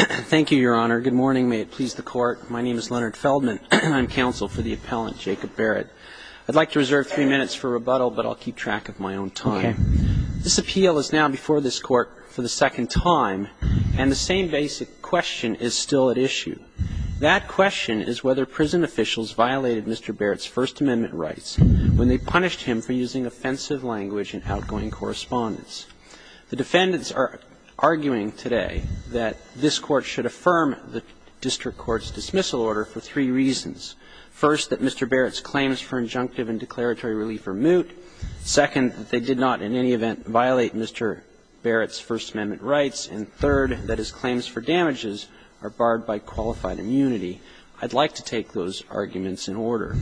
Thank you, Your Honor. Good morning. May it please the Court. My name is Leonard Feldman. I'm counsel for the appellant, Jacob Barrett. I'd like to reserve three minutes for rebuttal, but I'll keep track of my own time. This appeal is now before this Court for the second time, and the same basic question is still at issue. That question is whether prison officials violated Mr. Barrett's First Amendment rights when they punished him for using offensive language in outgoing correspondence. The defendants are arguing today that this Court should affirm the district court's dismissal order for three reasons. First, that Mr. Barrett's claims for injunctive and declaratory relief are moot. Second, that they did not in any event violate Mr. Barrett's First Amendment rights. And third, that his claims for damages are barred by qualified immunity. I'd like to take those arguments in order.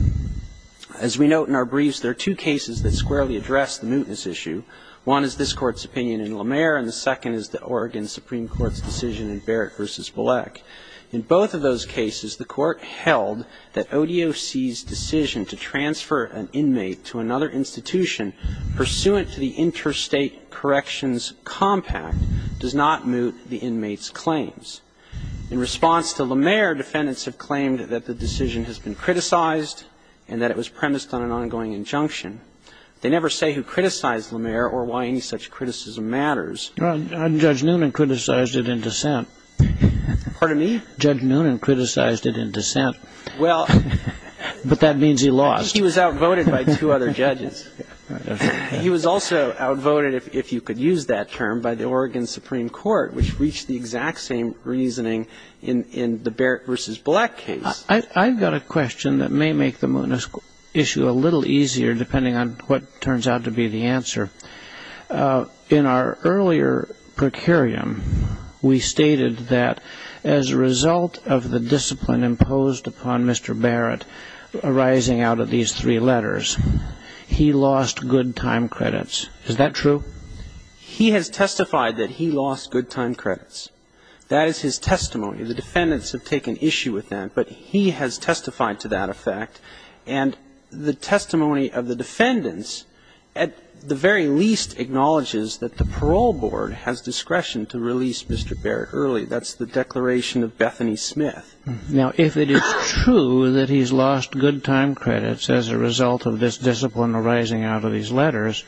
As we note in our briefs, there are two cases that squarely address the mootness issue. One is this Court's opinion in Lemaire, and the second is the Oregon Supreme Court's decision in Barrett v. Bullock. In both of those cases, the Court held that ODOC's decision to transfer an inmate to another institution pursuant to the Interstate Corrections Compact does not moot the inmate's claims. In response to Lemaire, defendants have claimed that the decision has been criticized and that it was premised on an ongoing injunction. They never say who criticized Lemaire or why any such criticism matters. Well, Judge Noonan criticized it in dissent. Pardon me? Judge Noonan criticized it in dissent. Well ---- But that means he lost. He was outvoted by two other judges. He was also outvoted, if you could use that term, by the Oregon Supreme Court, which reached the exact same reasoning in the Barrett v. Bullock case. I've got a question that may make the mootness issue a little easier, depending on what turns out to be the answer. In our earlier precarium, we stated that as a result of the discipline imposed upon Mr. Barrett arising out of these three letters, he lost good time credits. Is that true? He has testified that he lost good time credits. That is his testimony. The defendants have taken issue with that, but he has testified to that effect. And the testimony of the defendants, at the very least, acknowledges that the parole board has discretion to release Mr. Barrett early. That's the declaration of Bethany Smith. Now, if it is true that he's lost good time credits as a result of this discipline arising out of these letters,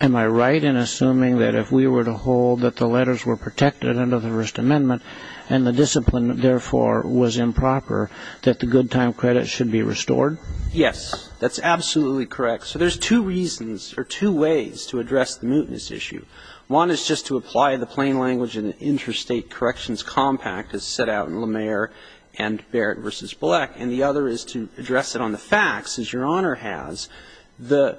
am I right in assuming that if we were to hold that the letters were protected under the First Amendment and the discipline, therefore, was improper, that the good time credits should be restored? Yes. That's absolutely correct. So there's two reasons or two ways to address the mootness issue. One is just to apply the plain language in the Interstate Corrections Compact, as set out in Lemaire and Barrett v. Bullock. And the other is to address it on the facts, as Your Honor has. The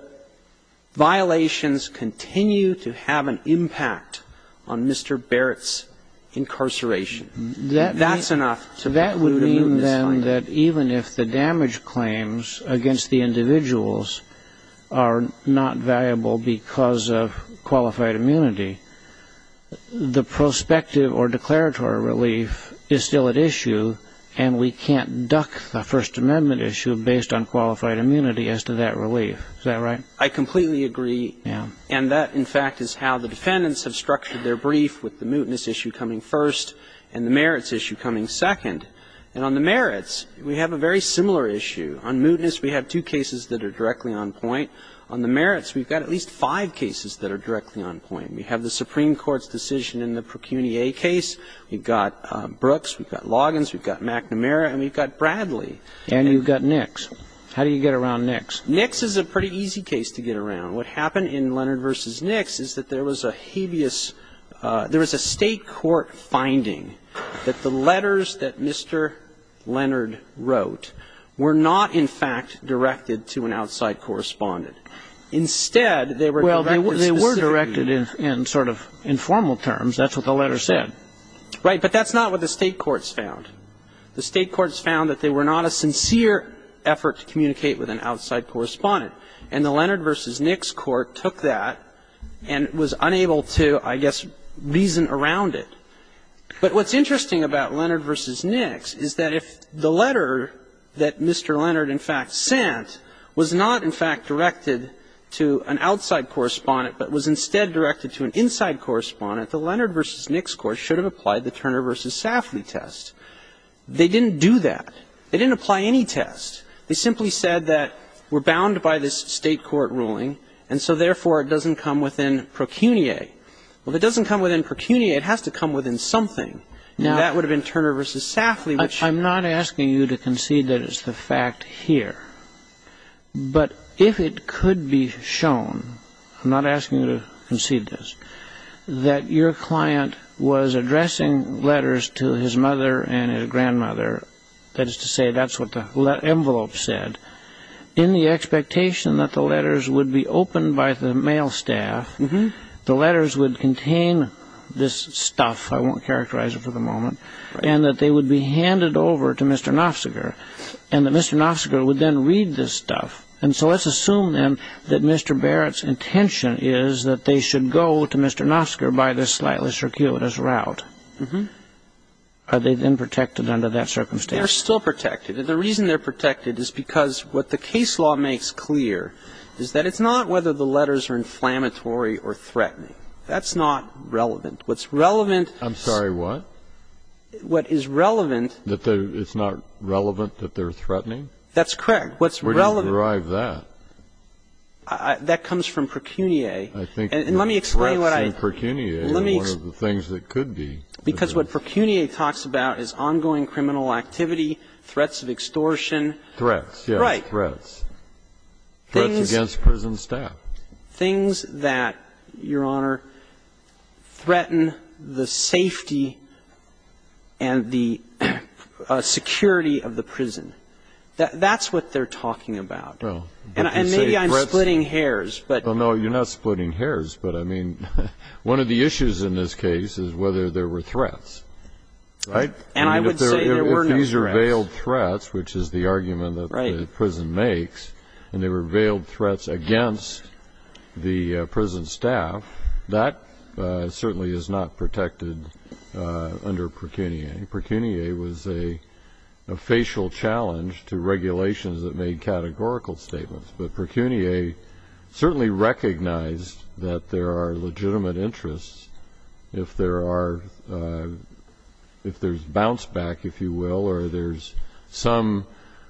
violations continue to have an impact on Mr. Barrett's incarceration. That's enough to conclude a mootness finding. That would mean, then, that even if the damage claims against the individuals are not valuable because of qualified immunity, the prospective or declaratory relief is still at issue, and we can't duck the First Amendment issue based on qualified I completely agree. Yeah. And that, in fact, is how the defendants have structured their brief, with the mootness issue coming first and the merits issue coming second. And on the merits, we have a very similar issue. On mootness, we have two cases that are directly on point. On the merits, we've got at least five cases that are directly on point. We have the Supreme Court's decision in the Procuniae case. We've got Brooks. We've got Loggins. We've got McNamara. And we've got Bradley. And you've got Nix. How do you get around Nix? Nix is a pretty easy case to get around. What happened in Leonard v. Nix is that there was a habeas ‑‑ there was a state court finding that the letters that Mr. Leonard wrote were not, in fact, directed to an outside correspondent. Instead, they were directed specifically ‑‑ Well, they were directed in sort of informal terms. That's what the letter said. Right. But that's not what the state courts found. The state courts found that they were not a sincere effort to communicate with an outside correspondent. And the Leonard v. Nix court took that and was unable to, I guess, reason around it. But what's interesting about Leonard v. Nix is that if the letter that Mr. Leonard, in fact, sent was not, in fact, directed to an outside correspondent, but was instead directed to an inside correspondent, the Leonard v. Nix court should have applied the Turner v. Safley test. They didn't do that. They didn't apply any test. They simply said that we're bound by this state court ruling, and so, therefore, it doesn't come within procuniae. Well, if it doesn't come within procuniae, it has to come within something. And that would have been Turner v. Safley, which ‑‑ I'm not asking you to concede that it's the fact here. But if it could be shown, I'm not asking you to concede this, that your client was addressing letters to his mother and his grandmother, that is to say, that's what the envelope said, in the expectation that the letters would be opened by the mail staff, the letters would contain this stuff, I won't characterize it for the moment, and that they would be handed over to Mr. Knopfseger, and that Mr. Knopfseger would then read this stuff. And so let's assume, then, that Mr. Barrett's intention is that they should go to Mr. Kuehler's route. Are they then protected under that circumstance? They're still protected. And the reason they're protected is because what the case law makes clear is that it's not whether the letters are inflammatory or threatening. That's not relevant. What's relevant ‑‑ I'm sorry, what? What is relevant ‑‑ That it's not relevant that they're threatening? That's correct. What's relevant ‑‑ Where do you derive that? That comes from procuniae. I think ‑‑ And let me explain what I ‑‑ Because what procuniae talks about is ongoing criminal activity, threats of extortion. Threats, yes. Right. Threats. Threats against prison staff. Things that, Your Honor, threaten the safety and the security of the prison. That's what they're talking about. And maybe I'm splitting hairs, but ‑‑ One of the issues in this case is whether there were threats. Right? And I would say there were no threats. If these are veiled threats, which is the argument that the prison makes, and they were veiled threats against the prison staff, that certainly is not protected under procuniae. Procuniae was a facial challenge to regulations that made categorical statements. But procuniae certainly recognized that there are legitimate interests if there's bounce back, if you will, or there's some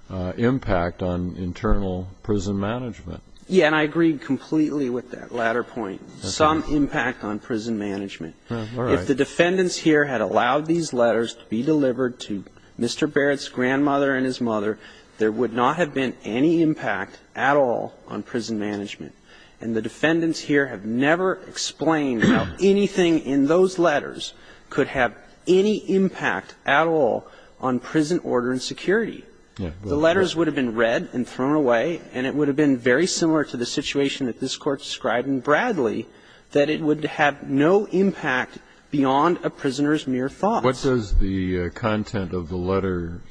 impact on internal prison management. Yeah, and I agree completely with that latter point. Some impact on prison management. If the defendants here had allowed these letters to be delivered to Mr. Barrett's grandmother and his mother, there would not have been any impact at all on prison management. And the defendants here have never explained how anything in those letters could have any impact at all on prison order and security. The letters would have been read and thrown away, and it would have been very similar to the situation that this Court described in Bradley, that it would have no impact beyond a prisoner's mere thoughts. What does the content of the letters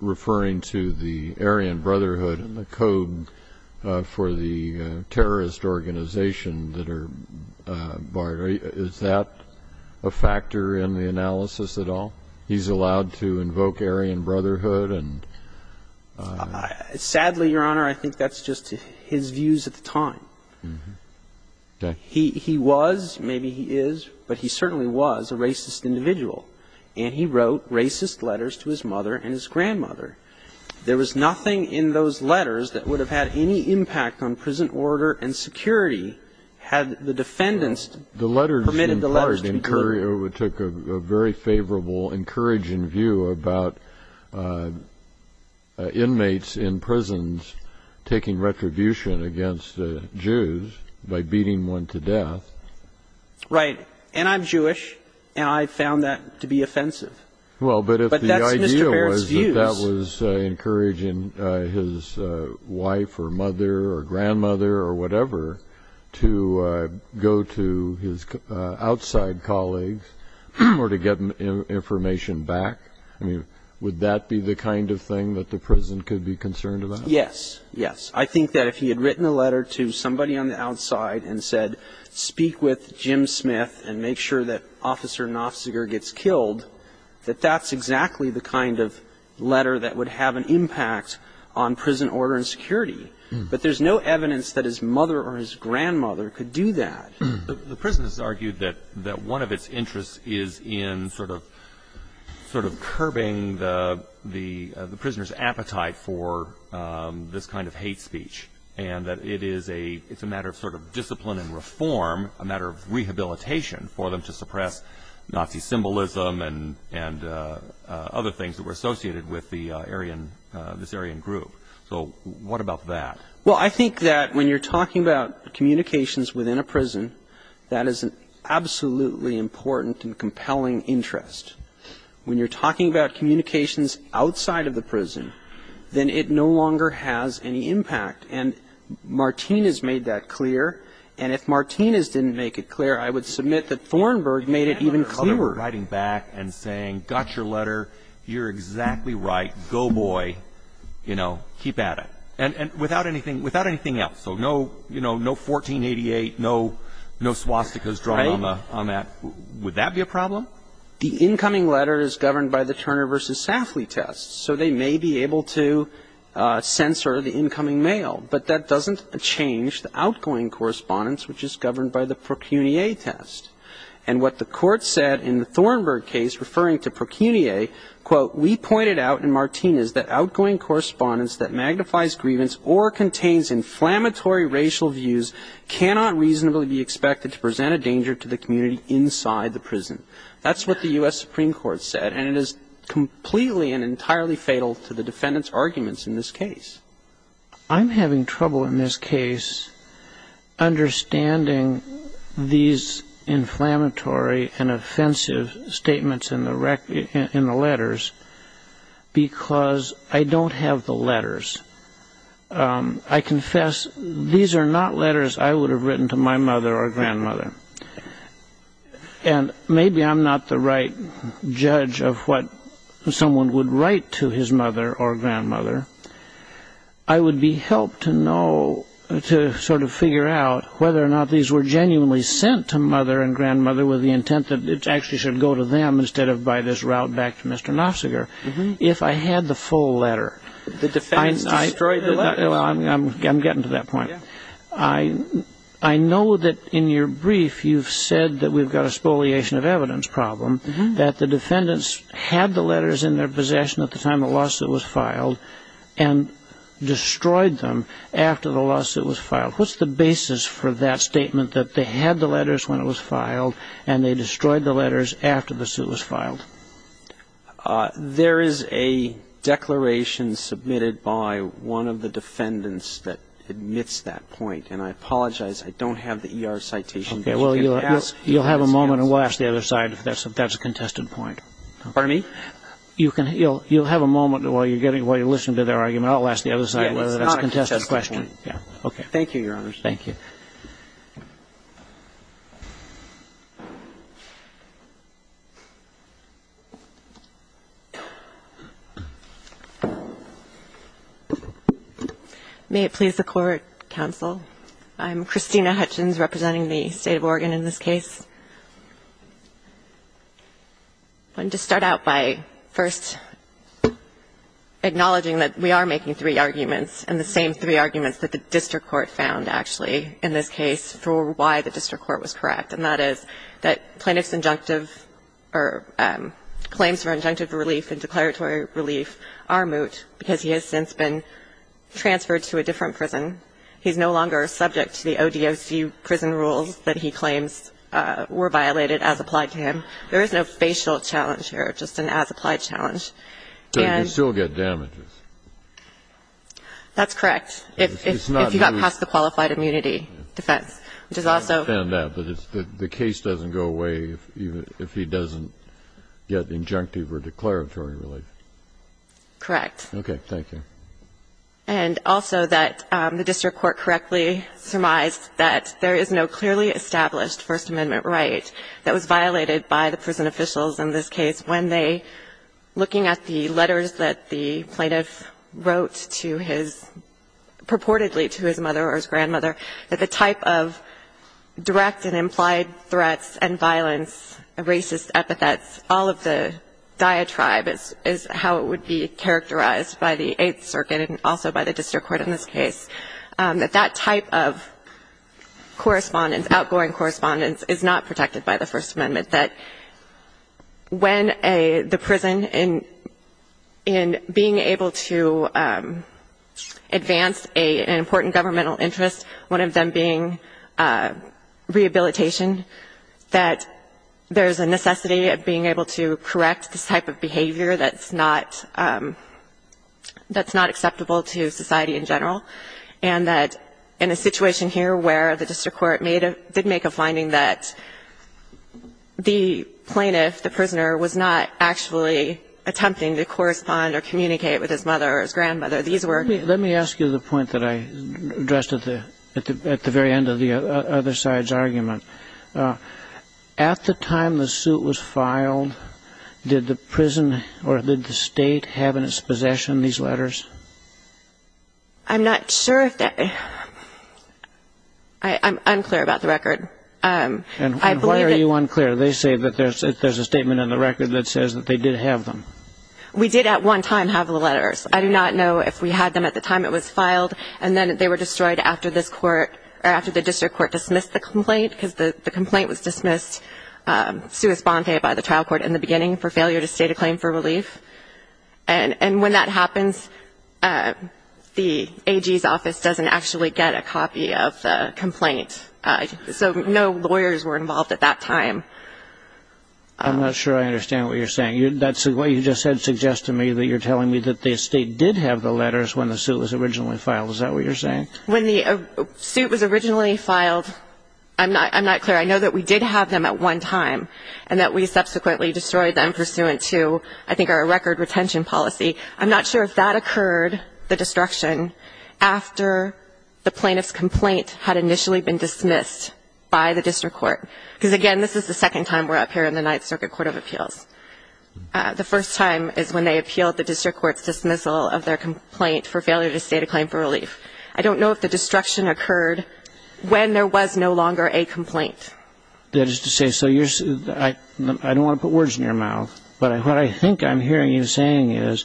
referring to the Aryan Brotherhood and the code for the terrorist organization that are barred, is that a factor in the analysis at all? He's allowed to invoke Aryan Brotherhood and ---- Sadly, Your Honor, I think that's just his views at the time. Okay. He was, maybe he is, but he certainly was a racist individual, and he wrote racist letters to his mother and his grandmother. There was nothing in those letters that would have had any impact on prison order and security had the defendants permitted the letters to be delivered. The letters, in part, took a very favorable, encouraging view about inmates in prisons taking retribution against Jews by beating one to death. Right. And I'm Jewish, and I found that to be offensive. But that's Mr. Barrett's views. Well, but if the idea was that that was encouraging his wife or mother or grandmother or whatever to go to his outside colleagues or to get information back, would that be the kind of thing that the prison could be concerned about? Yes. Yes. I think that if he had written a letter to somebody on the outside and said, speak with Jim Smith and make sure that Officer Knopfziger gets killed, that that's exactly the kind of letter that would have an impact on prison order and security. But there's no evidence that his mother or his grandmother could do that. The prisoners argued that one of its interests is in sort of curbing the prisoner's appetite for this kind of hate speech and that it is a matter of sort of discipline and reform, a matter of rehabilitation for them to suppress Nazi symbolism and other things that were associated with the Aryan, this Aryan group. So what about that? Well, I think that when you're talking about communications within a prison, that is an absolutely important and compelling interest. When you're talking about communications outside of the prison, then it no longer has any impact. And Martinez made that clear. And if Martinez didn't make it clear, I would submit that Thornburg made it even clearer. You can't have your mother writing back and saying, got your letter, you're exactly right, go, boy, you know, keep at it. And without anything else, so no 1488, no swastikas drawn on that, would that be a problem? The incoming letter is governed by the Turner v. Safley test. So they may be able to censor the incoming mail. But that doesn't change the outgoing correspondence, which is governed by the Procunier test. And what the Court said in the Thornburg case referring to Procunier, quote, That's what the U.S. Supreme Court said. And it is completely and entirely fatal to the defendant's arguments in this case. I'm having trouble in this case understanding these inflammatory and offensive statements in the letters. Because I don't have the letters. I confess these are not letters I would have written to my mother or grandmother. And maybe I'm not the right judge of what someone would write to his mother or grandmother. I would be helped to know, to sort of figure out whether or not these were genuinely sent to mother and grandmother with the intent that it actually should go to them instead of by this route back to Mr. Knopfseger. If I had the full letter. The defendants destroyed the letter. I'm getting to that point. I know that in your brief you've said that we've got a spoliation of evidence problem, that the defendants had the letters in their possession at the time the lawsuit was filed and destroyed them after the lawsuit was filed. What's the basis for that statement that they had the letters when it was filed and they destroyed the letters after the suit was filed? There is a declaration submitted by one of the defendants that admits that point. And I apologize. I don't have the E.R. citation. You'll have a moment and we'll ask the other side if that's a contested point. Pardon me? You'll have a moment while you're listening to their argument. I'll ask the other side whether that's a contested point. Okay. Thank you, Your Honors. Thank you. May it please the Court, counsel. I'm Christina Hutchins representing the State of Oregon in this case. I'm going to start out by first acknowledging that we are making three arguments and the same three arguments that the district court found, actually, in this case for why the district court was correct. And that is that plaintiff's injunctive or claims for injunctive relief and declaratory relief are moot because he has since been transferred to a different prison. He's no longer subject to the ODOC prison rules that he claims were violated as applied to him. There is no facial challenge here, just an as-applied challenge. So he can still get damages? That's correct. It's not moot. If he got past the qualified immunity defense, which is also... I understand that, but the case doesn't go away if he doesn't get injunctive or declaratory relief. Correct. Okay. Thank you. And also that the district court correctly surmised that there is no clearly established that was violated by the prison officials in this case when they, looking at the letters that the plaintiff wrote to his, purportedly to his mother or his grandmother, that the type of direct and implied threats and violence, racist epithets, all of the diatribe is how it would be characterized by the Eighth Circuit and also by the district court in this case, that that type of correspondence, outgoing correspondence, is not protected by the First Amendment, that when the prison, in being able to advance an important governmental interest, one of them being rehabilitation, that there's a necessity of being able to correct this type of behavior that's not acceptable to society in general. And that in a situation here where the district court did make a finding that the plaintiff, the prisoner, was not actually attempting to correspond or communicate with his mother or his grandmother. These were... Let me ask you the point that I addressed at the very end of the other side's argument. At the time the suit was filed, did the prison or did the State have in its possession these letters? I'm not sure if that... I'm unclear about the record. And why are you unclear? They say that there's a statement in the record that says that they did have them. We did at one time have the letters. I do not know if we had them at the time it was filed. And then they were destroyed after this court, or after the district court dismissed the complaint, because the complaint was dismissed sua sponte by the trial court in the beginning for failure to state a claim for relief. And when that happens, the AG's office doesn't actually get a copy of the complaint. So no lawyers were involved at that time. I'm not sure I understand what you're saying. What you just said suggests to me that you're telling me that the State did have the letters when the suit was originally filed. Is that what you're saying? When the suit was originally filed, I'm not clear. I know that we did have them at one time, and that we subsequently destroyed them pursuant to, I think, our record retention policy. I'm not sure if that occurred, the destruction, after the plaintiff's complaint had initially been dismissed by the district court. Because, again, this is the second time we're up here in the Ninth Circuit Court of Appeals. The first time is when they appealed the district court's dismissal of their complaint for failure to state a claim for relief. I don't know if the destruction occurred when there was no longer a complaint. That is to say, so you're saying, I don't want to put words in your mouth, but what I think I'm hearing you saying is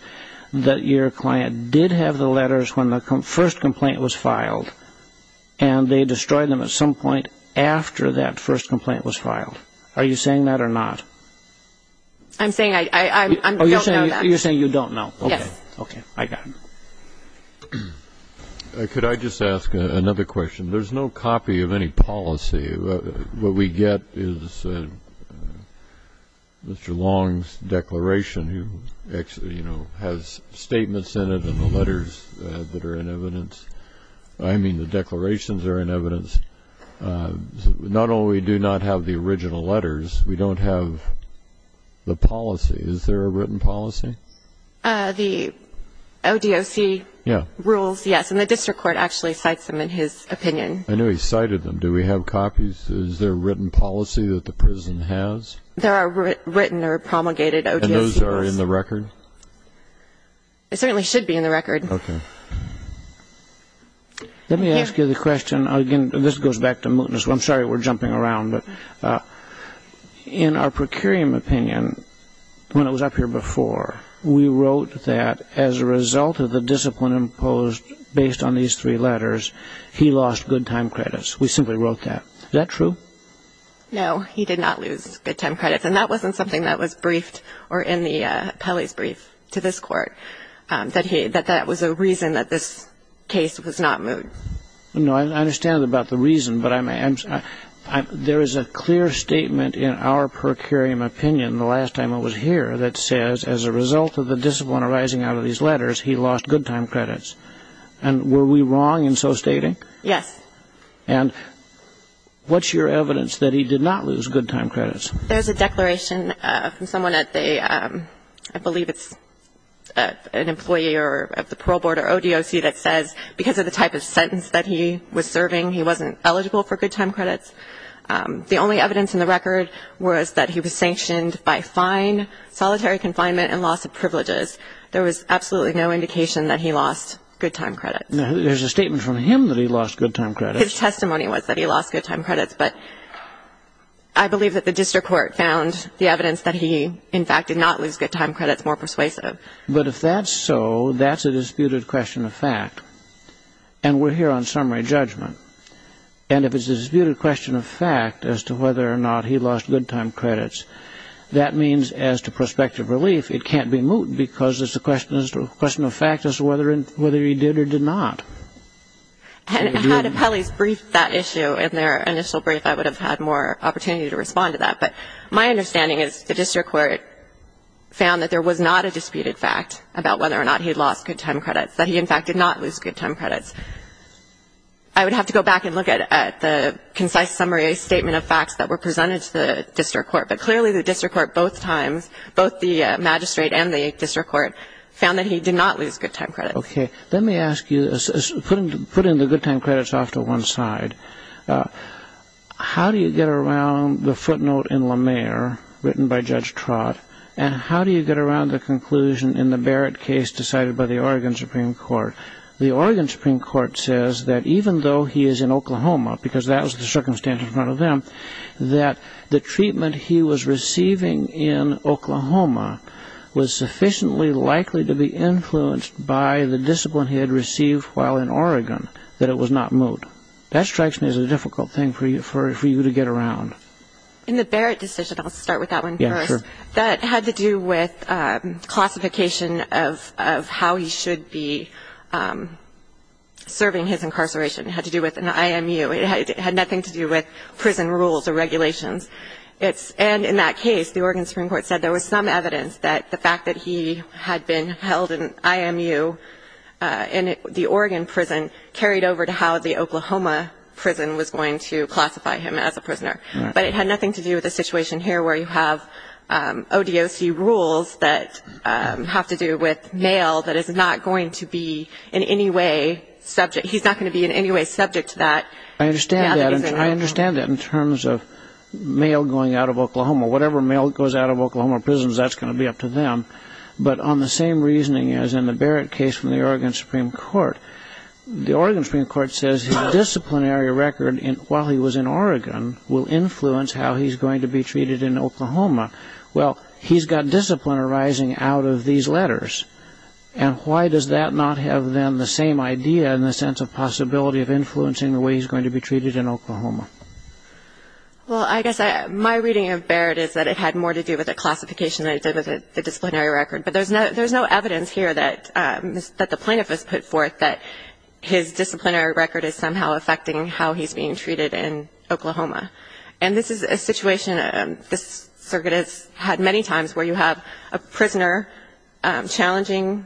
that your client did have the letters when the first complaint was filed, and they destroyed them at some point after that first complaint was filed. Are you saying that or not? I'm saying I don't know that. Oh, you're saying you don't know. Yes. Okay, I got it. Could I just ask another question? There's no copy of any policy. What we get is Mr. Long's declaration, who actually, you know, has statements in it and the letters that are in evidence. I mean the declarations are in evidence. Not only do we not have the original letters, we don't have the policy. Is there a written policy? The ODOC rules, yes, and the district court actually cites them in his opinion. I know he cited them. Do we have copies? Is there a written policy that the prison has? There are written or promulgated ODOC rules. And those are in the record? They certainly should be in the record. Okay. Let me ask you the question. Again, this goes back to mootness. I'm sorry we're jumping around. But in our procurium opinion, when it was up here before, we wrote that as a result of the discipline imposed based on these three letters, he lost good time credits. We simply wrote that. Is that true? No, he did not lose good time credits. And that wasn't something that was briefed or in Kelly's brief to this court, that that was a reason that this case was not moot. No, I understand about the reason. But there is a clear statement in our procurium opinion the last time it was here that says as a result of the discipline arising out of these letters, he lost good time credits. And were we wrong in so stating? Yes. And what's your evidence that he did not lose good time credits? There's a declaration from someone at the, I believe it's an employee of the parole board or ODOC that says because of the type of sentence that he was serving, he wasn't eligible for good time credits. The only evidence in the record was that he was sanctioned by fine, solitary confinement, and loss of privileges. There was absolutely no indication that he lost good time credits. There's a statement from him that he lost good time credits. His testimony was that he lost good time credits. But I believe that the district court found the evidence that he, in fact, did not lose good time credits more persuasive. But if that's so, that's a disputed question of fact. And we're here on summary judgment. And if it's a disputed question of fact as to whether or not he lost good time credits, that means as to prospective relief, it can't be moot because it's a question of fact as to whether he did or did not. Had Appellee's briefed that issue in their initial brief, I would have had more opportunity to respond to that. But my understanding is the district court found that there was not a disputed fact about whether or not he had lost good time credits, that he, in fact, did not lose good time credits. I would have to go back and look at the concise summary statement of facts that were presented to the district court. But clearly the district court both times, both the magistrate and the district court, found that he did not lose good time credits. Okay. Let me ask you, putting the good time credits off to one side, how do you get around the footnote in La Mer written by Judge Trott, and how do you get around the conclusion in the Barrett case decided by the Oregon Supreme Court? The Oregon Supreme Court says that even though he is in Oklahoma, because that was the circumstance in front of them, that the treatment he was receiving in Oklahoma was sufficiently likely to be influenced by the discipline he had received while in Oregon that it was not moot. That strikes me as a difficult thing for you to get around. In the Barrett decision, I'll start with that one first, that had to do with classification of how he should be serving his incarceration. It had to do with an IMU. It had nothing to do with prison rules or regulations. And in that case, the Oregon Supreme Court said there was some evidence that the fact that he had been held in IMU in the Oregon prison carried over to how the Oklahoma prison was going to classify him as a prisoner. But it had nothing to do with the situation here where you have ODOC rules that have to do with mail that is not going to be in any way subject to that. I understand that in terms of mail going out of Oklahoma. Whatever mail goes out of Oklahoma prisons, that's going to be up to them. But on the same reasoning as in the Barrett case from the Oregon Supreme Court, the Oregon Supreme Court says his disciplinary record while he was in Oregon will influence how he's going to be treated in Oklahoma. Well, he's got discipline arising out of these letters. And why does that not have, then, the same idea in the sense of possibility of influencing the way he's going to be treated in Oklahoma? Well, I guess my reading of Barrett is that it had more to do with the classification than it did with the disciplinary record. But there's no evidence here that the plaintiff has put forth that his disciplinary record is somehow affecting how he's being treated in Oklahoma. And this is a situation this circuit has had many times, where you have a prisoner challenging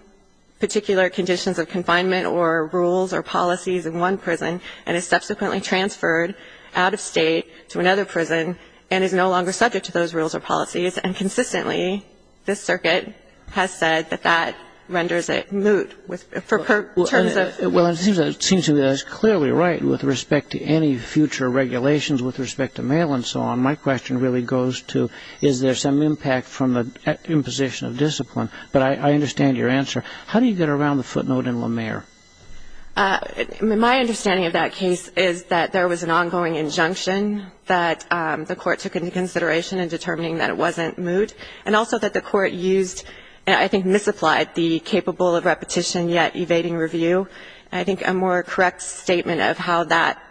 particular conditions of confinement or rules or policies in one prison and is subsequently transferred out of state to another prison and is no longer subject to those rules or policies. And consistently, this circuit has said that that renders it moot. Well, it seems to me that's clearly right with respect to any future regulations, with respect to mail and so on. My question really goes to is there some impact from the imposition of discipline? But I understand your answer. How do you get around the footnote in LaMere? My understanding of that case is that there was an ongoing injunction that the court took into consideration in determining that it wasn't moot, and also that the court used, I think, misapplied the capable of repetition yet evading review. I think a more correct statement of how that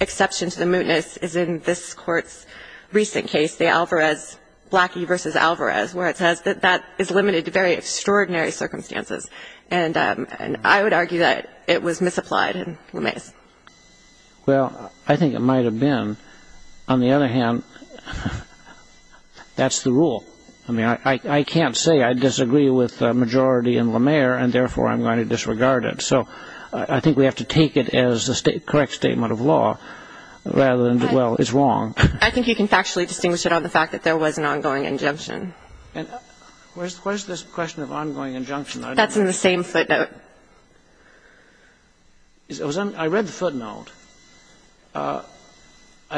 exception to the mootness is in this Court's recent case, the Alvarez, Blackie v. Alvarez, where it says that that is limited to very extraordinary circumstances. And I would argue that it was misapplied in LaMere. Well, I think it might have been. On the other hand, that's the rule. I mean, I can't say I disagree with majority in LaMere, and therefore I'm going to disregard it. So I think we have to take it as the correct statement of law rather than, well, it's wrong. I think you can factually distinguish it on the fact that there was an ongoing injunction. And where's this question of ongoing injunction? That's in the same footnote. I read the footnote, and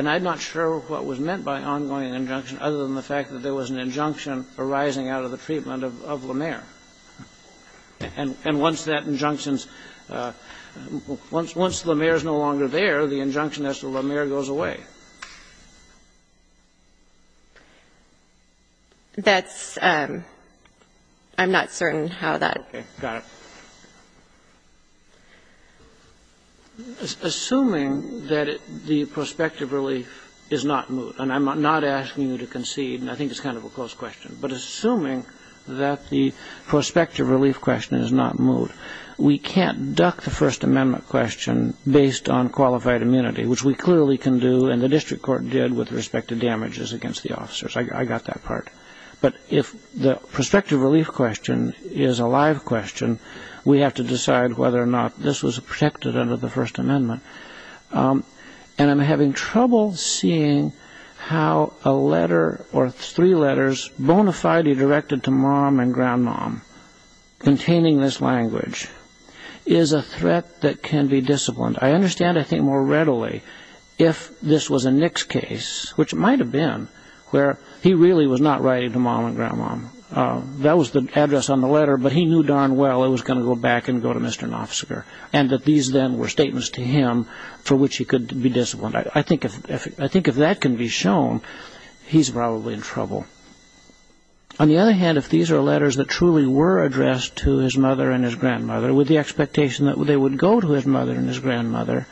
I'm not sure what was meant by ongoing injunction other than the fact that there was an injunction arising out of the treatment of LaMere. And once that injunction's — once LaMere's no longer there, the injunction as to LaMere goes away. That's — I'm not certain how that — Okay. Got it. Assuming that the prospective relief is not moot, and I'm not asking you to concede, and I think it's kind of a close question, but assuming that the prospective relief question is not moot, we can't duck the First Amendment question based on qualified immunity, which we clearly can do and the district court did with respect to damages against the officers. I got that part. But if the prospective relief question is a live question, we have to decide whether or not this was protected under the First Amendment. And I'm having trouble seeing how a letter or three letters bona fide directed to mom and grandmom containing this language is a threat that can be disciplined. I understand, I think, more readily if this was a Nicks case, which it might have been, where he really was not writing to mom and grandmom. That was the address on the letter, but he knew darn well it was going to go back and go to Mr. Knopfserger, and that these then were statements to him for which he could be disciplined. I think if that can be shown, he's probably in trouble. On the other hand, if these are letters that truly were addressed to his mother and his grandmother with the expectation that they would go to his mother and his grandmother,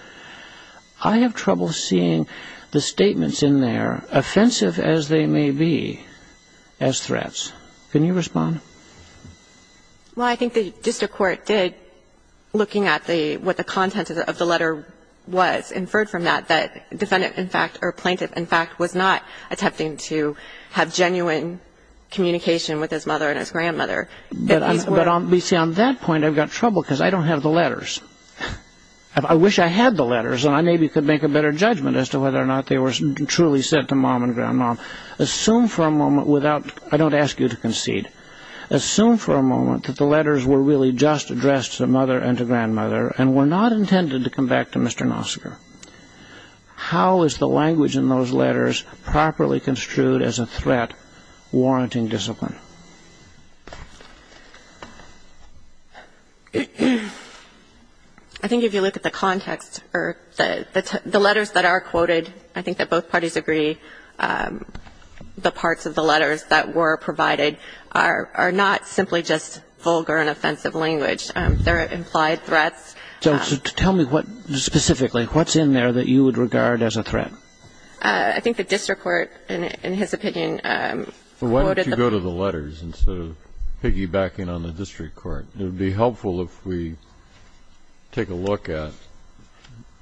I have trouble seeing the statements in there, offensive as they may be, as threats. Can you respond? Well, I think the district court did, looking at what the content of the letter was, inferred from that that defendant, in fact, or plaintiff, in fact, was not attempting to have genuine communication with his mother and his grandmother. But on that point, I've got trouble because I don't have the letters. I wish I had the letters, and I maybe could make a better judgment as to whether or not they were truly sent to mom and grandmom. Assume for a moment without, I don't ask you to concede, assume for a moment that the letters were really just addressed to mother and to grandmother and were not intended to come back to Mr. Knopfserger. How is the language in those letters properly construed as a threat warranting discipline? I think if you look at the context, or the letters that are quoted, I think that both parties agree the parts of the letters that were provided are not simply just vulgar and offensive language. They're implied threats. So tell me what specifically, what's in there that you would regard as a threat? I think the district court, in his opinion, quoted the... Well, why don't you go to the letters instead of piggybacking on the district court? It would be helpful if we take a look at...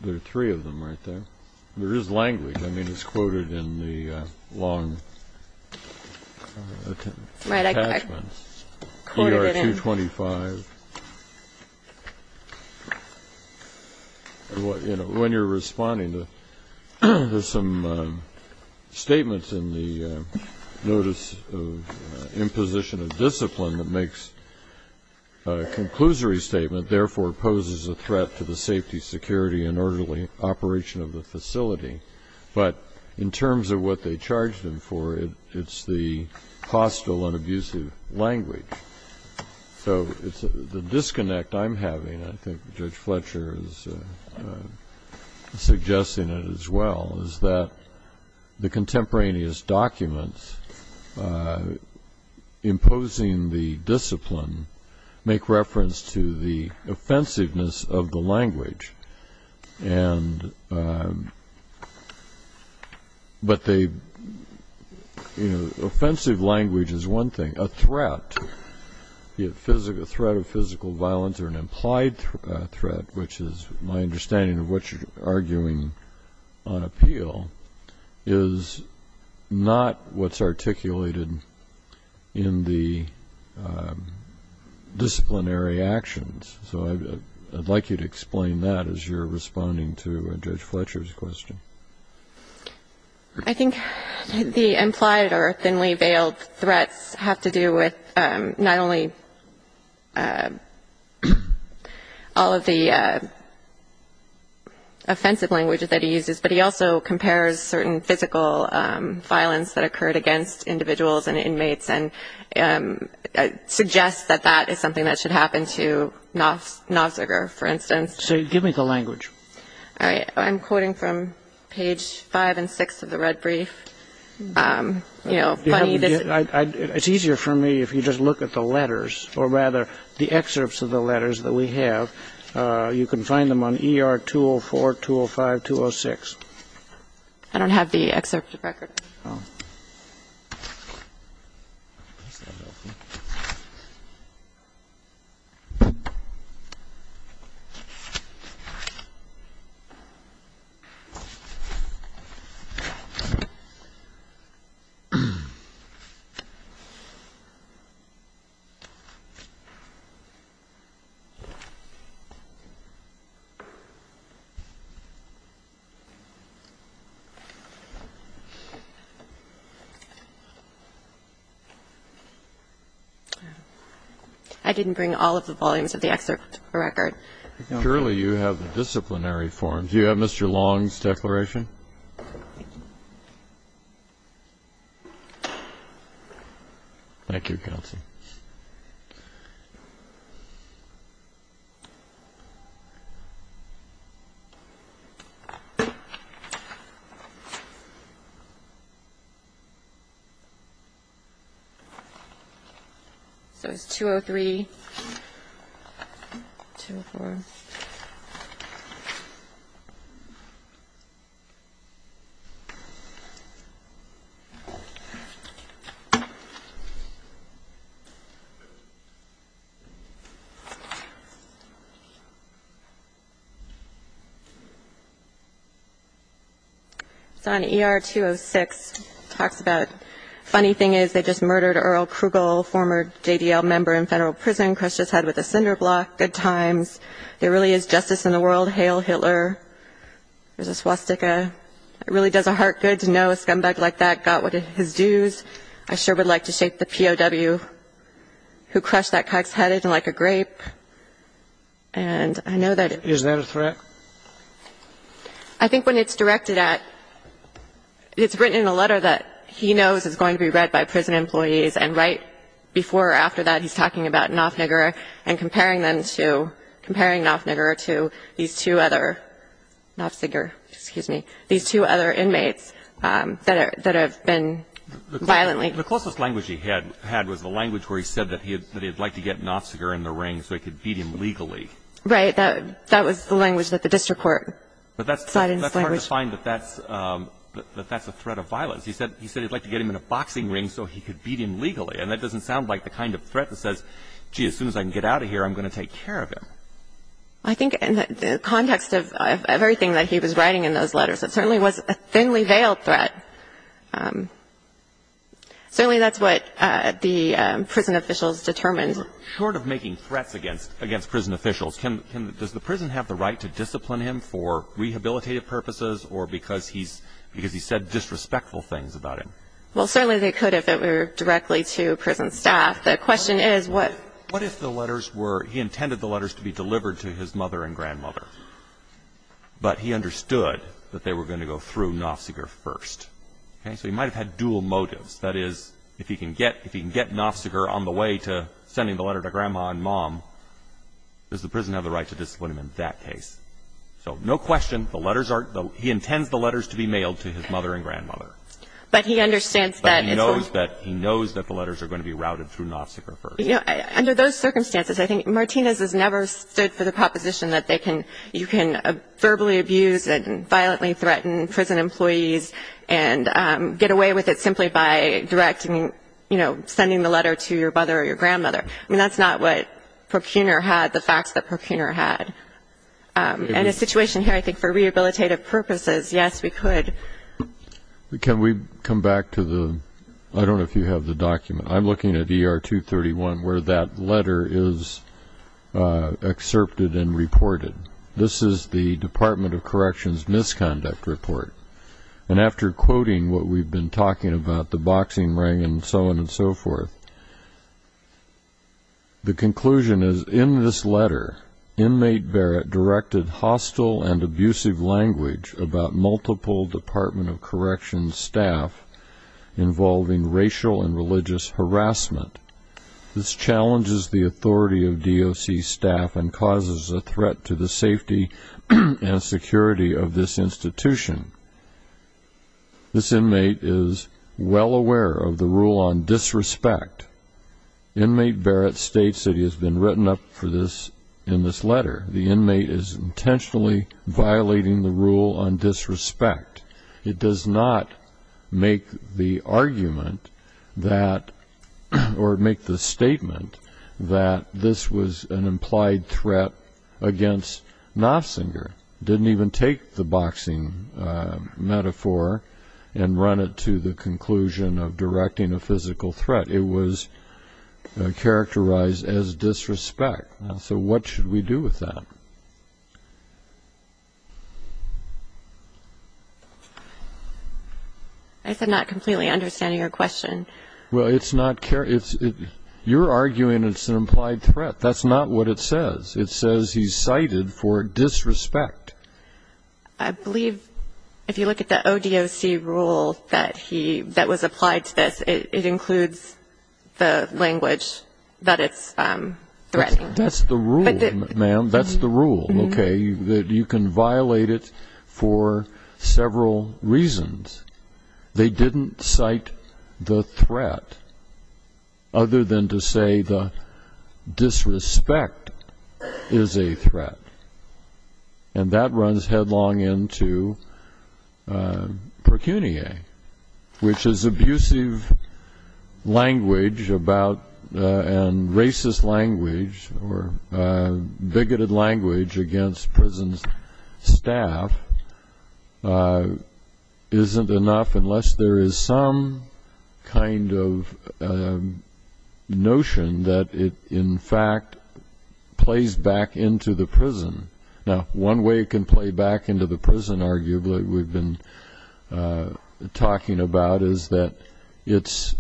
There are three of them right there. There is language. I mean, it's quoted in the long... Right, I quoted it in... ER-225. When you're responding, there's some statements in the Notice of Imposition of Discipline that makes a conclusory statement, therefore poses a threat to the safety, security, and orderly operation of the facility. But in terms of what they charged him for, it's the hostile and abusive language. So the disconnect I'm having, and I think Judge Fletcher is suggesting it as well, is that the contemporaneous documents imposing the discipline make reference to the offensiveness of the language. But offensive language is one thing. A threat, a threat of physical violence, or an implied threat, which is my understanding of what you're arguing on appeal, is not what's articulated in the disciplinary actions. So I'd like you to explain that as you're responding to Judge Fletcher's question. I think the implied or thinly veiled threats have to do with not only all of the offensive language that he uses, but he also compares certain physical violence that occurred against individuals and inmates and suggests that that is something that should happen to Knobziger, for instance. So give me the language. All right. I'm quoting from page 5 and 6 of the red brief. You know, plenty of this. It's easier for me if you just look at the letters, or rather the excerpts of the letters that we have. You can find them on ER 204, 205, 206. I don't have the excerpt of record. Oh. That's not helping. I didn't bring all of the volumes of the excerpt of record. Surely you have the disciplinary forms. Do you have Mr. Long's declaration? Thank you, counsel. All right. All right. So on ER 206, it talks about, funny thing is they just murdered Earl Krugel, former JDL member in federal prison, crushed his head with a cinder block. Good times. There really is justice in the world. Hail Hitler. There's a swastika. It really does a heart good to know a scumbag like that got his dues. I sure would like to shake the POW who crushed that cuck's head isn't like a grape. And I know that. Isn't that a threat? I think when it's directed at, it's written in a letter that he knows is going to be read by prison employees, and right before or after that he's talking about Knopfniger and comparing them to, comparing Knopfniger to these two other, Knopfniger, excuse me, these two other inmates that have been violently. The closest language he had was the language where he said that he'd like to get Knopfniger in the ring so he could beat him legally. Right. That was the language that the district court cited as language. But that's hard to find that that's a threat of violence. He said he'd like to get him in a boxing ring so he could beat him legally, and that doesn't sound like the kind of threat that says, gee, as soon as I can get out of here, I'm going to take care of him. I think in the context of everything that he was writing in those letters, it certainly was a thinly veiled threat. Certainly that's what the prison officials determined. Short of making threats against prison officials, does the prison have the right to discipline him for rehabilitative purposes or because he said disrespectful things about him? Well, certainly they could if it were directly to prison staff. The question is what... But he understood that they were going to go through Knopfniger first. Okay? So he might have had dual motives. That is, if he can get Knopfniger on the way to sending the letter to Grandma and Mom, does the prison have the right to discipline him in that case? So no question, the letters are... He intends the letters to be mailed to his mother and grandmother. But he understands that... But he knows that the letters are going to be routed through Knopfniger first. Under those circumstances, I think Martinez has never stood for the proposition that you can verbally abuse and violently threaten prison employees and get away with it simply by sending the letter to your brother or your grandmother. I mean, that's not what Procuner had, the facts that Procuner had. In a situation here, I think for rehabilitative purposes, yes, we could. Can we come back to the... I don't know if you have the document. I'm looking at ER 231 where that letter is excerpted and reported. This is the Department of Corrections misconduct report. And after quoting what we've been talking about, the boxing ring and so on and so forth, the conclusion is, in this letter, inmate Barrett directed hostile and abusive language about multiple Department of Corrections staff involving racial and religious harassment. This challenges the authority of DOC staff and causes a threat to the safety and security of this institution. This inmate is well aware of the rule on disrespect. Inmate Barrett states that he has been written up for this in this letter. The inmate is intentionally violating the rule on disrespect. It does not make the argument that... or make the statement that this was an implied threat against Nofsinger. Didn't even take the boxing metaphor and run it to the conclusion of directing a physical threat. It was characterized as disrespect. So what should we do with that? I said not completely understanding your question. Well, it's not... You're arguing it's an implied threat. That's not what it says. It says he's cited for disrespect. I believe if you look at the ODOC rule that was applied to this, it includes the language that it's threatening. That's the rule, ma'am. That's the rule, okay, that you can violate it for several reasons. They didn't cite the threat, other than to say the disrespect is a threat. And that runs headlong into precuniae, which is abusive language about... or bigoted language against prison staff isn't enough unless there is some kind of notion that it in fact plays back into the prison. Now, one way it can play back into the prison, arguably, we've been talking about, is that it's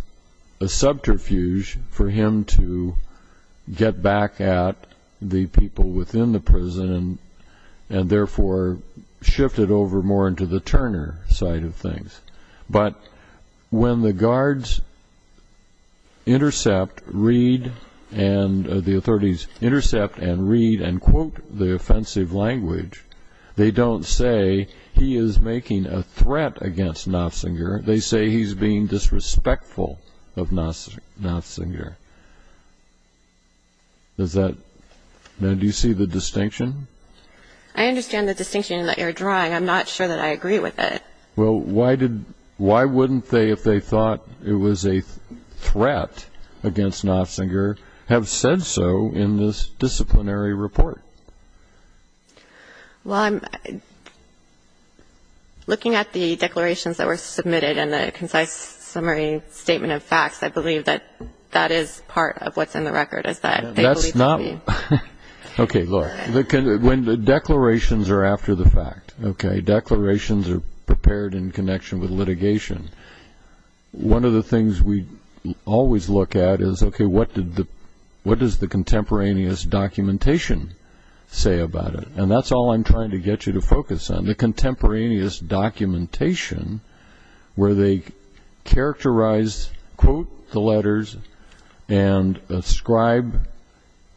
a subterfuge for him to get back at the people within the prison and therefore shift it over more into the Turner side of things. But when the guards intercept, read, and the authorities intercept and read and quote the offensive language, they don't say he is making a threat against Nofsinger. They say he's being disrespectful of Nofsinger. Now, do you see the distinction? I understand the distinction that you're drawing. I'm not sure that I agree with it. Well, why wouldn't they, if they thought it was a threat against Nofsinger, have said so in this disciplinary report? Well, looking at the declarations that were submitted and the concise summary statement of facts, I believe that that is part of what's in the record, is that they believe... That's not... Okay, look. When the declarations are after the fact, okay, declarations are prepared in connection with litigation, one of the things we always look at is, okay, what does the contemporaneous documentation say about it? And that's all I'm trying to get you to focus on. The contemporaneous documentation, where they characterize, quote the letters, and ascribe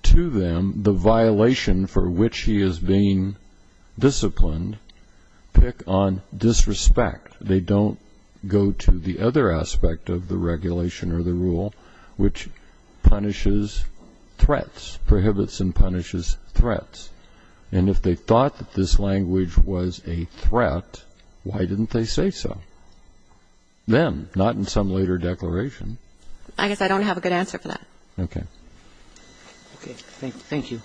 to them the violation for which he is being disciplined, pick on disrespect. They don't go to the other aspect of the regulation or the rule, which punishes threats, prohibits and punishes threats. And if they thought that this language was a threat, why didn't they say so? Then, not in some later declaration. I guess I don't have a good answer for that. Okay. Okay, thank you.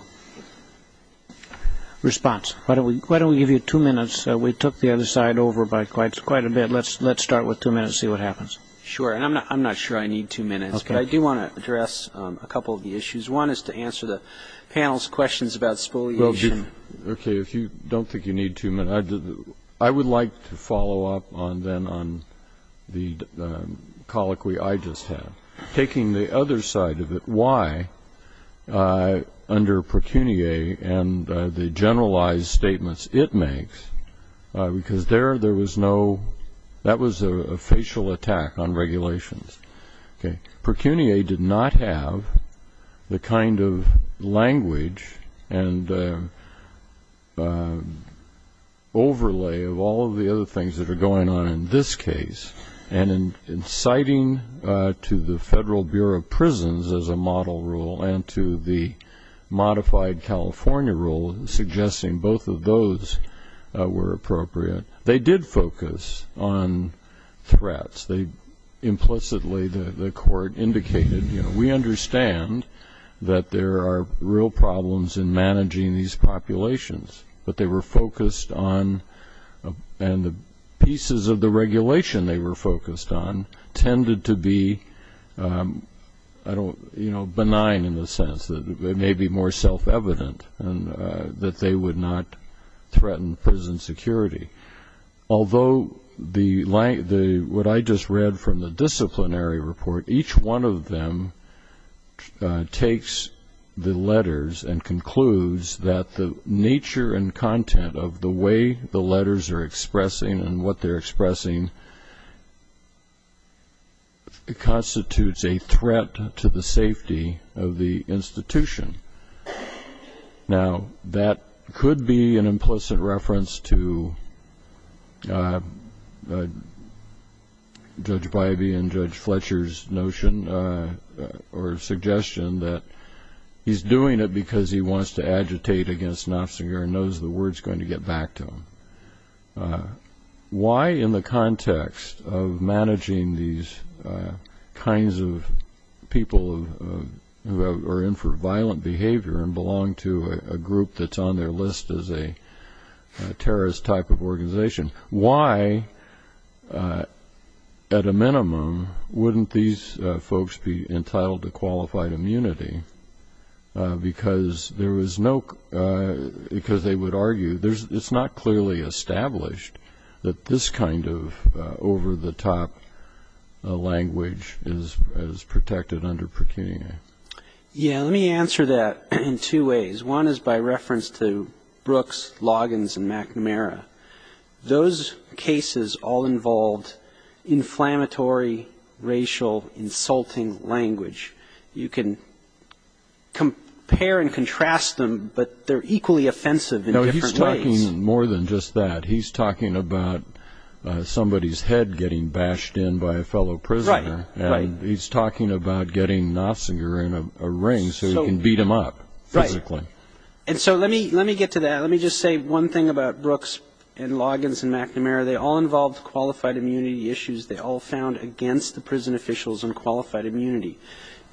Response. Why don't we give you two minutes? We took the other side over by quite a bit. Let's start with two minutes and see what happens. Sure, and I'm not sure I need two minutes. Okay. But I do want to address a couple of the issues. One is to answer the panel's questions about spoliation. Okay, if you don't think you need two minutes, I would like to follow up then on the colloquy I just had. Taking the other side of it, why, under precuniae and the generalized statements it makes, because there was no – that was a facial attack on regulations. Okay. Precuniae did not have the kind of language and overlay of all of the other things that are going on in this case. And in citing to the Federal Bureau of Prisons as a model rule and to the modified California rule suggesting both of those were appropriate, they did focus on threats. Implicitly, the court indicated, you know, we understand that there are real problems in managing these populations, but they were focused on – and the pieces of the regulation they were focused on tended to be benign in the sense that it may be more self-evident and that they would not threaten prison security. Although what I just read from the disciplinary report, each one of them takes the letters and concludes that the nature and content of the way the letters are expressing of the institution. Now, that could be an implicit reference to Judge Bybee and Judge Fletcher's notion or suggestion that he's doing it because he wants to agitate against Knopfsenger and knows the word's going to get back to him. Why in the context of managing these kinds of people who are in for violent behavior and belong to a group that's on their list as a terrorist type of organization, why at a minimum wouldn't these folks be entitled to qualified immunity? Because there was no – because they would argue – it's not clearly established that this kind of over-the-top language is protected under pecuniary. Yeah, let me answer that in two ways. One is by reference to Brooks, Loggins, and McNamara. Those cases all involved inflammatory, racial, insulting language. You can compare and contrast them, but they're equally offensive in different ways. No, he's talking more than just that. He's talking about somebody's head getting bashed in by a fellow prisoner. Right, right. And he's talking about getting Knopfsenger in a ring so he can beat him up physically. Right. And so let me get to that. Let me just say one thing about Brooks and Loggins and McNamara. They all involved qualified immunity issues. They all found against the prison officials unqualified immunity.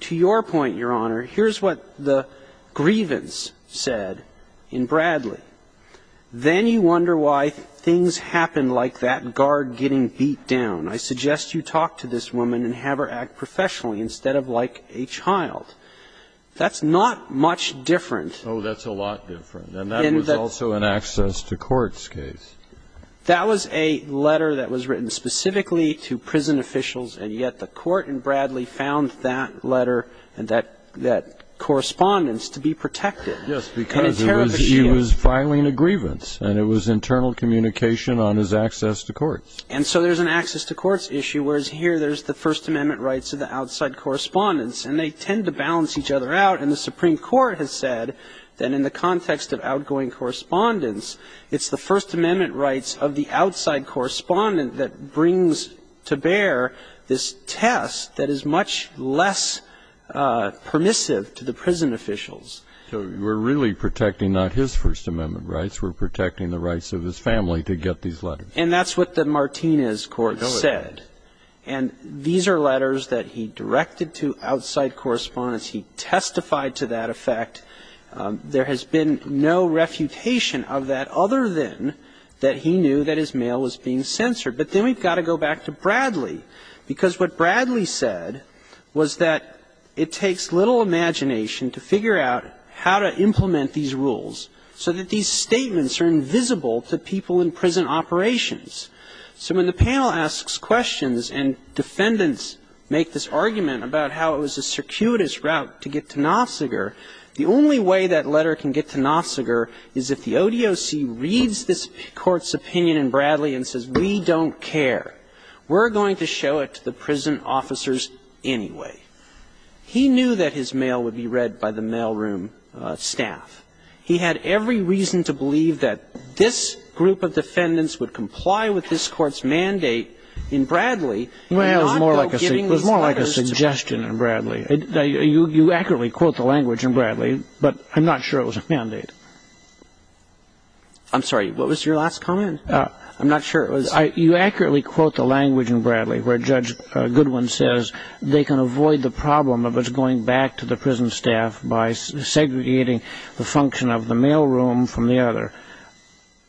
To your point, Your Honor, here's what the grievance said in Bradley. Then you wonder why things happen like that guard getting beat down. I suggest you talk to this woman and have her act professionally instead of like a child. That's not much different. Oh, that's a lot different. And that was also an access to courts case. That was a letter that was written specifically to prison officials, and yet the court in Bradley found that letter and that correspondence to be protected. Yes, because he was filing a grievance, and it was internal communication on his access to courts. And so there's an access to courts issue, whereas here there's the First Amendment rights and the outside correspondence, and they tend to balance each other out. And the Supreme Court has said that in the context of outgoing correspondence, it's the First Amendment rights of the outside correspondent that brings to bear this test that is much less permissive to the prison officials. So we're really protecting not his First Amendment rights. We're protecting the rights of his family to get these letters. And that's what the Martinez court said. And these are letters that he directed to outside correspondence. He testified to that effect. There has been no refutation of that other than that he knew that his mail was being censored. But then we've got to go back to Bradley, because what Bradley said was that it takes little imagination to figure out how to implement these rules so that these statements are invisible to people in prison operations. So when the panel asks questions and defendants make this argument about how it was a circuitous route to get to Nossiger, the only way that letter can get to Nossiger is if the ODOC reads this Court's opinion in Bradley and says, we don't care. We're going to show it to the prison officers anyway. He knew that his mail would be read by the mailroom staff. He had every reason to believe that this group of defendants would comply with this Court's mandate in Bradley. Well, it was more like a suggestion in Bradley. You accurately quote the language in Bradley, but I'm not sure it was a mandate. I'm sorry. What was your last comment? I'm not sure it was. You accurately quote the language in Bradley where Judge Goodwin says they can avoid the problem of us going back to the prison staff by segregating the function of the mailroom from the other.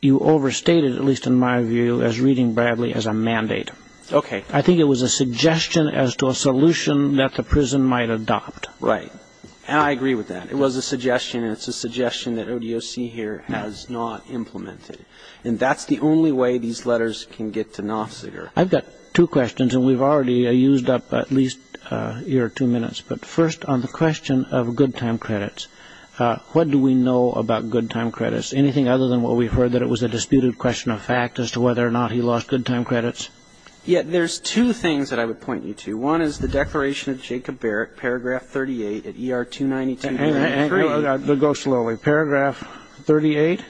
You overstated, at least in my view, as reading Bradley as a mandate. Okay. I think it was a suggestion as to a solution that the prison might adopt. Right. And I agree with that. It was a suggestion, and it's a suggestion that ODOC here has not implemented. And that's the only way these letters can get to Nossiger. I've got two questions, and we've already used up at least a year or two minutes. But first, on the question of good time credits, what do we know about good time credits? Anything other than what we've heard, that it was a disputed question of fact as to whether or not he lost good time credits? Yeah, there's two things that I would point you to. One is the declaration of Jacob Barrett, paragraph 38 at ER 292 to 93. Go slowly. Paragraph 38?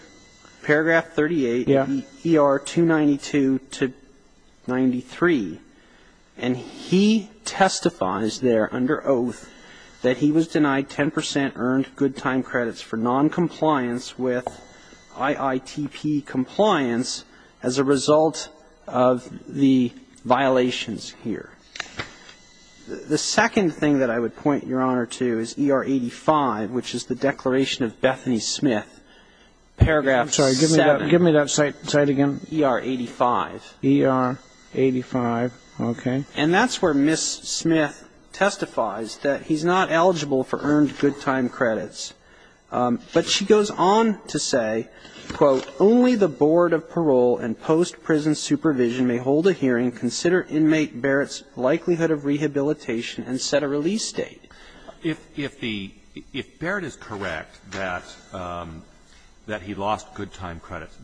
Paragraph 38. Yeah. ER 292 to 93. And he testifies there under oath that he was denied 10 percent earned good time credits for noncompliance with IITP compliance as a result of the violations here. The second thing that I would point Your Honor to is ER 85, which is the declaration of Bethany Smith, paragraph 7. I'm sorry. Give me that cite again. ER 85. ER 85. Okay. And that's where Ms. Smith testifies that he's not eligible for earned good time credits. But she goes on to say, quote, only the board of parole and post-prison supervision may hold a hearing, consider inmate Barrett's likelihood of rehabilitation, and set a release date. If the ‑‑ if Barrett is correct that he lost good time credits,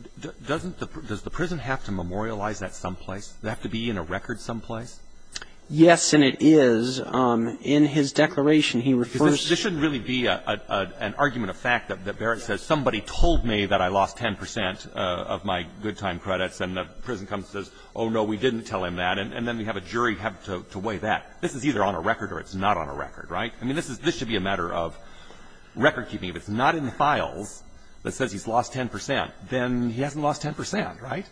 does the prison have to memorialize that someplace? Does it have to be in a record someplace? In his declaration, he refers to ‑‑ Because this shouldn't really be an argument of fact that Barrett says, somebody told me that I lost 10 percent of my good time credits. And the prison comes and says, oh, no, we didn't tell him that. And then we have a jury have to weigh that. This is either on a record or it's not on a record, right? I mean, this is ‑‑ this should be a matter of recordkeeping. If it's not in the files that says he's lost 10 percent, then he hasn't lost 10 percent, right?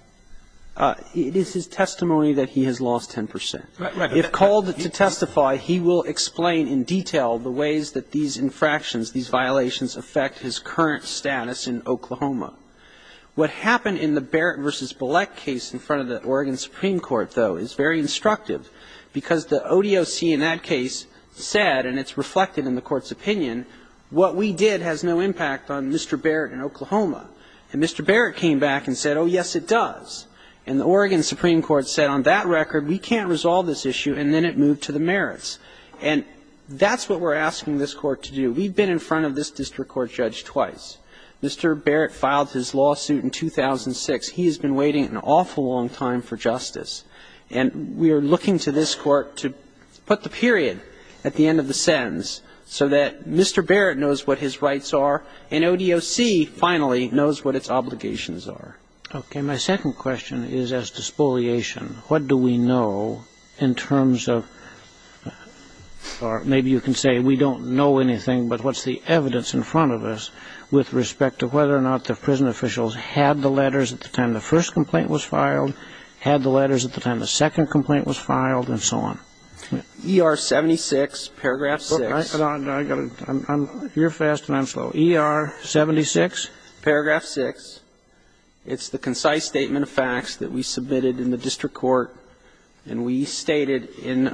It is his testimony that he has lost 10 percent. Right. If called to testify, he will explain in detail the ways that these infractions, these violations affect his current status in Oklahoma. What happened in the Barrett v. Bilek case in front of the Oregon Supreme Court, though, is very instructive, because the ODOC in that case said, and it's reflected in the Court's opinion, what we did has no impact on Mr. Barrett in Oklahoma. And Mr. Barrett came back and said, oh, yes, it does. And the Oregon Supreme Court said on that record, we can't resolve this issue, and then it moved to the merits. And that's what we're asking this Court to do. We've been in front of this district court judge twice. Mr. Barrett filed his lawsuit in 2006. He has been waiting an awful long time for justice. And we are looking to this Court to put the period at the end of the sentence so that Mr. Barrett knows what his rights are and ODOC finally knows what its obligations Okay. My second question is as to spoliation. What do we know in terms of, or maybe you can say we don't know anything, but what's the evidence in front of us with respect to whether or not the prison officials had the letters at the time the first complaint was filed, had the letters at the time the second complaint was filed, and so on? ER-76, paragraph 6. Hold on. You're fast and I'm slow. ER-76? Paragraph 6. It's the concise statement of facts that we submitted in the district court, and we stated in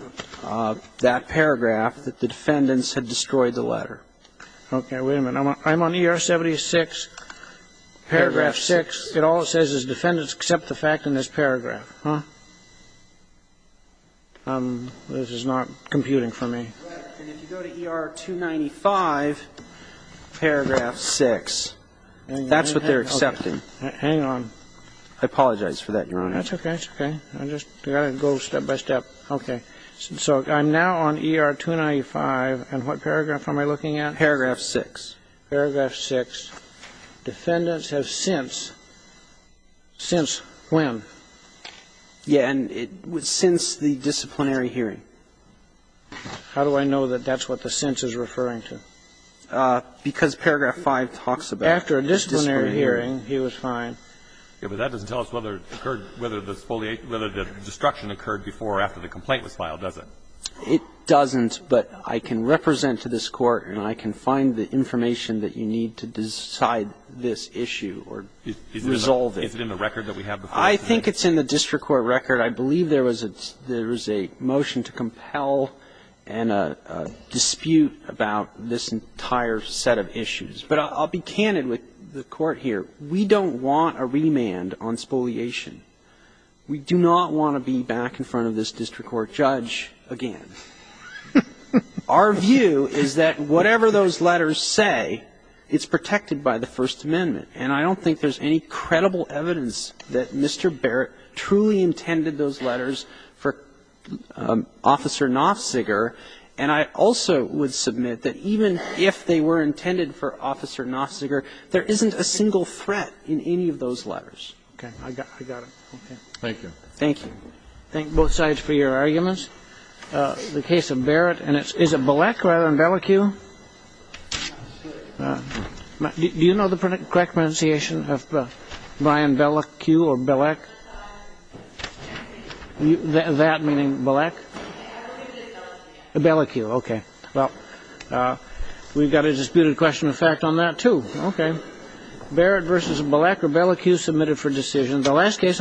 that paragraph that the defendants had destroyed the letter. Okay. Wait a minute. I'm on ER-76, paragraph 6. It all says is defendants except the fact in this paragraph. Huh? This is not computing for me. And if you go to ER-295, paragraph 6, that's what they're accepting. Hang on. I apologize for that, Your Honor. That's okay. That's okay. I'm just going to go step by step. Okay. So I'm now on ER-295, and what paragraph am I looking at? Paragraph 6. Paragraph 6. Defendants have since. Since when? Yeah, and since the disciplinary hearing. How do I know that that's what the since is referring to? Because paragraph 5 talks about disciplinary hearing. After a disciplinary hearing, he was fine. Yeah, but that doesn't tell us whether it occurred, whether the destruction occurred before or after the complaint was filed, does it? It doesn't, but I can represent to this Court and I can find the information that you need to decide this issue or resolve it. Is it in the record that we have before us? I think it's in the district court record. I believe there was a motion to compel and a dispute about this entire set of issues. But I'll be candid with the Court here. We don't want a remand on spoliation. We do not want to be back in front of this district court judge again. Our view is that whatever those letters say, it's protected by the First Amendment, and I don't think there's any credible evidence that Mr. Barrett truly intended those letters for Officer Knopfziger. And I also would submit that even if they were intended for Officer Knopfziger, there isn't a single threat in any of those letters. Okay. I got it. Thank you. Thank you. Thank both sides for your arguments. The case of Barrett, and is it Belek rather than Bellicu? Do you know the correct pronunciation of Brian Bellicu or Belek? That meaning Belek? Bellicu. Okay. Well, we've got a disputed question of fact on that, too. Okay. Barrett versus Belek, or Bellicu submitted for decision. The last case on this record is the case of Belek.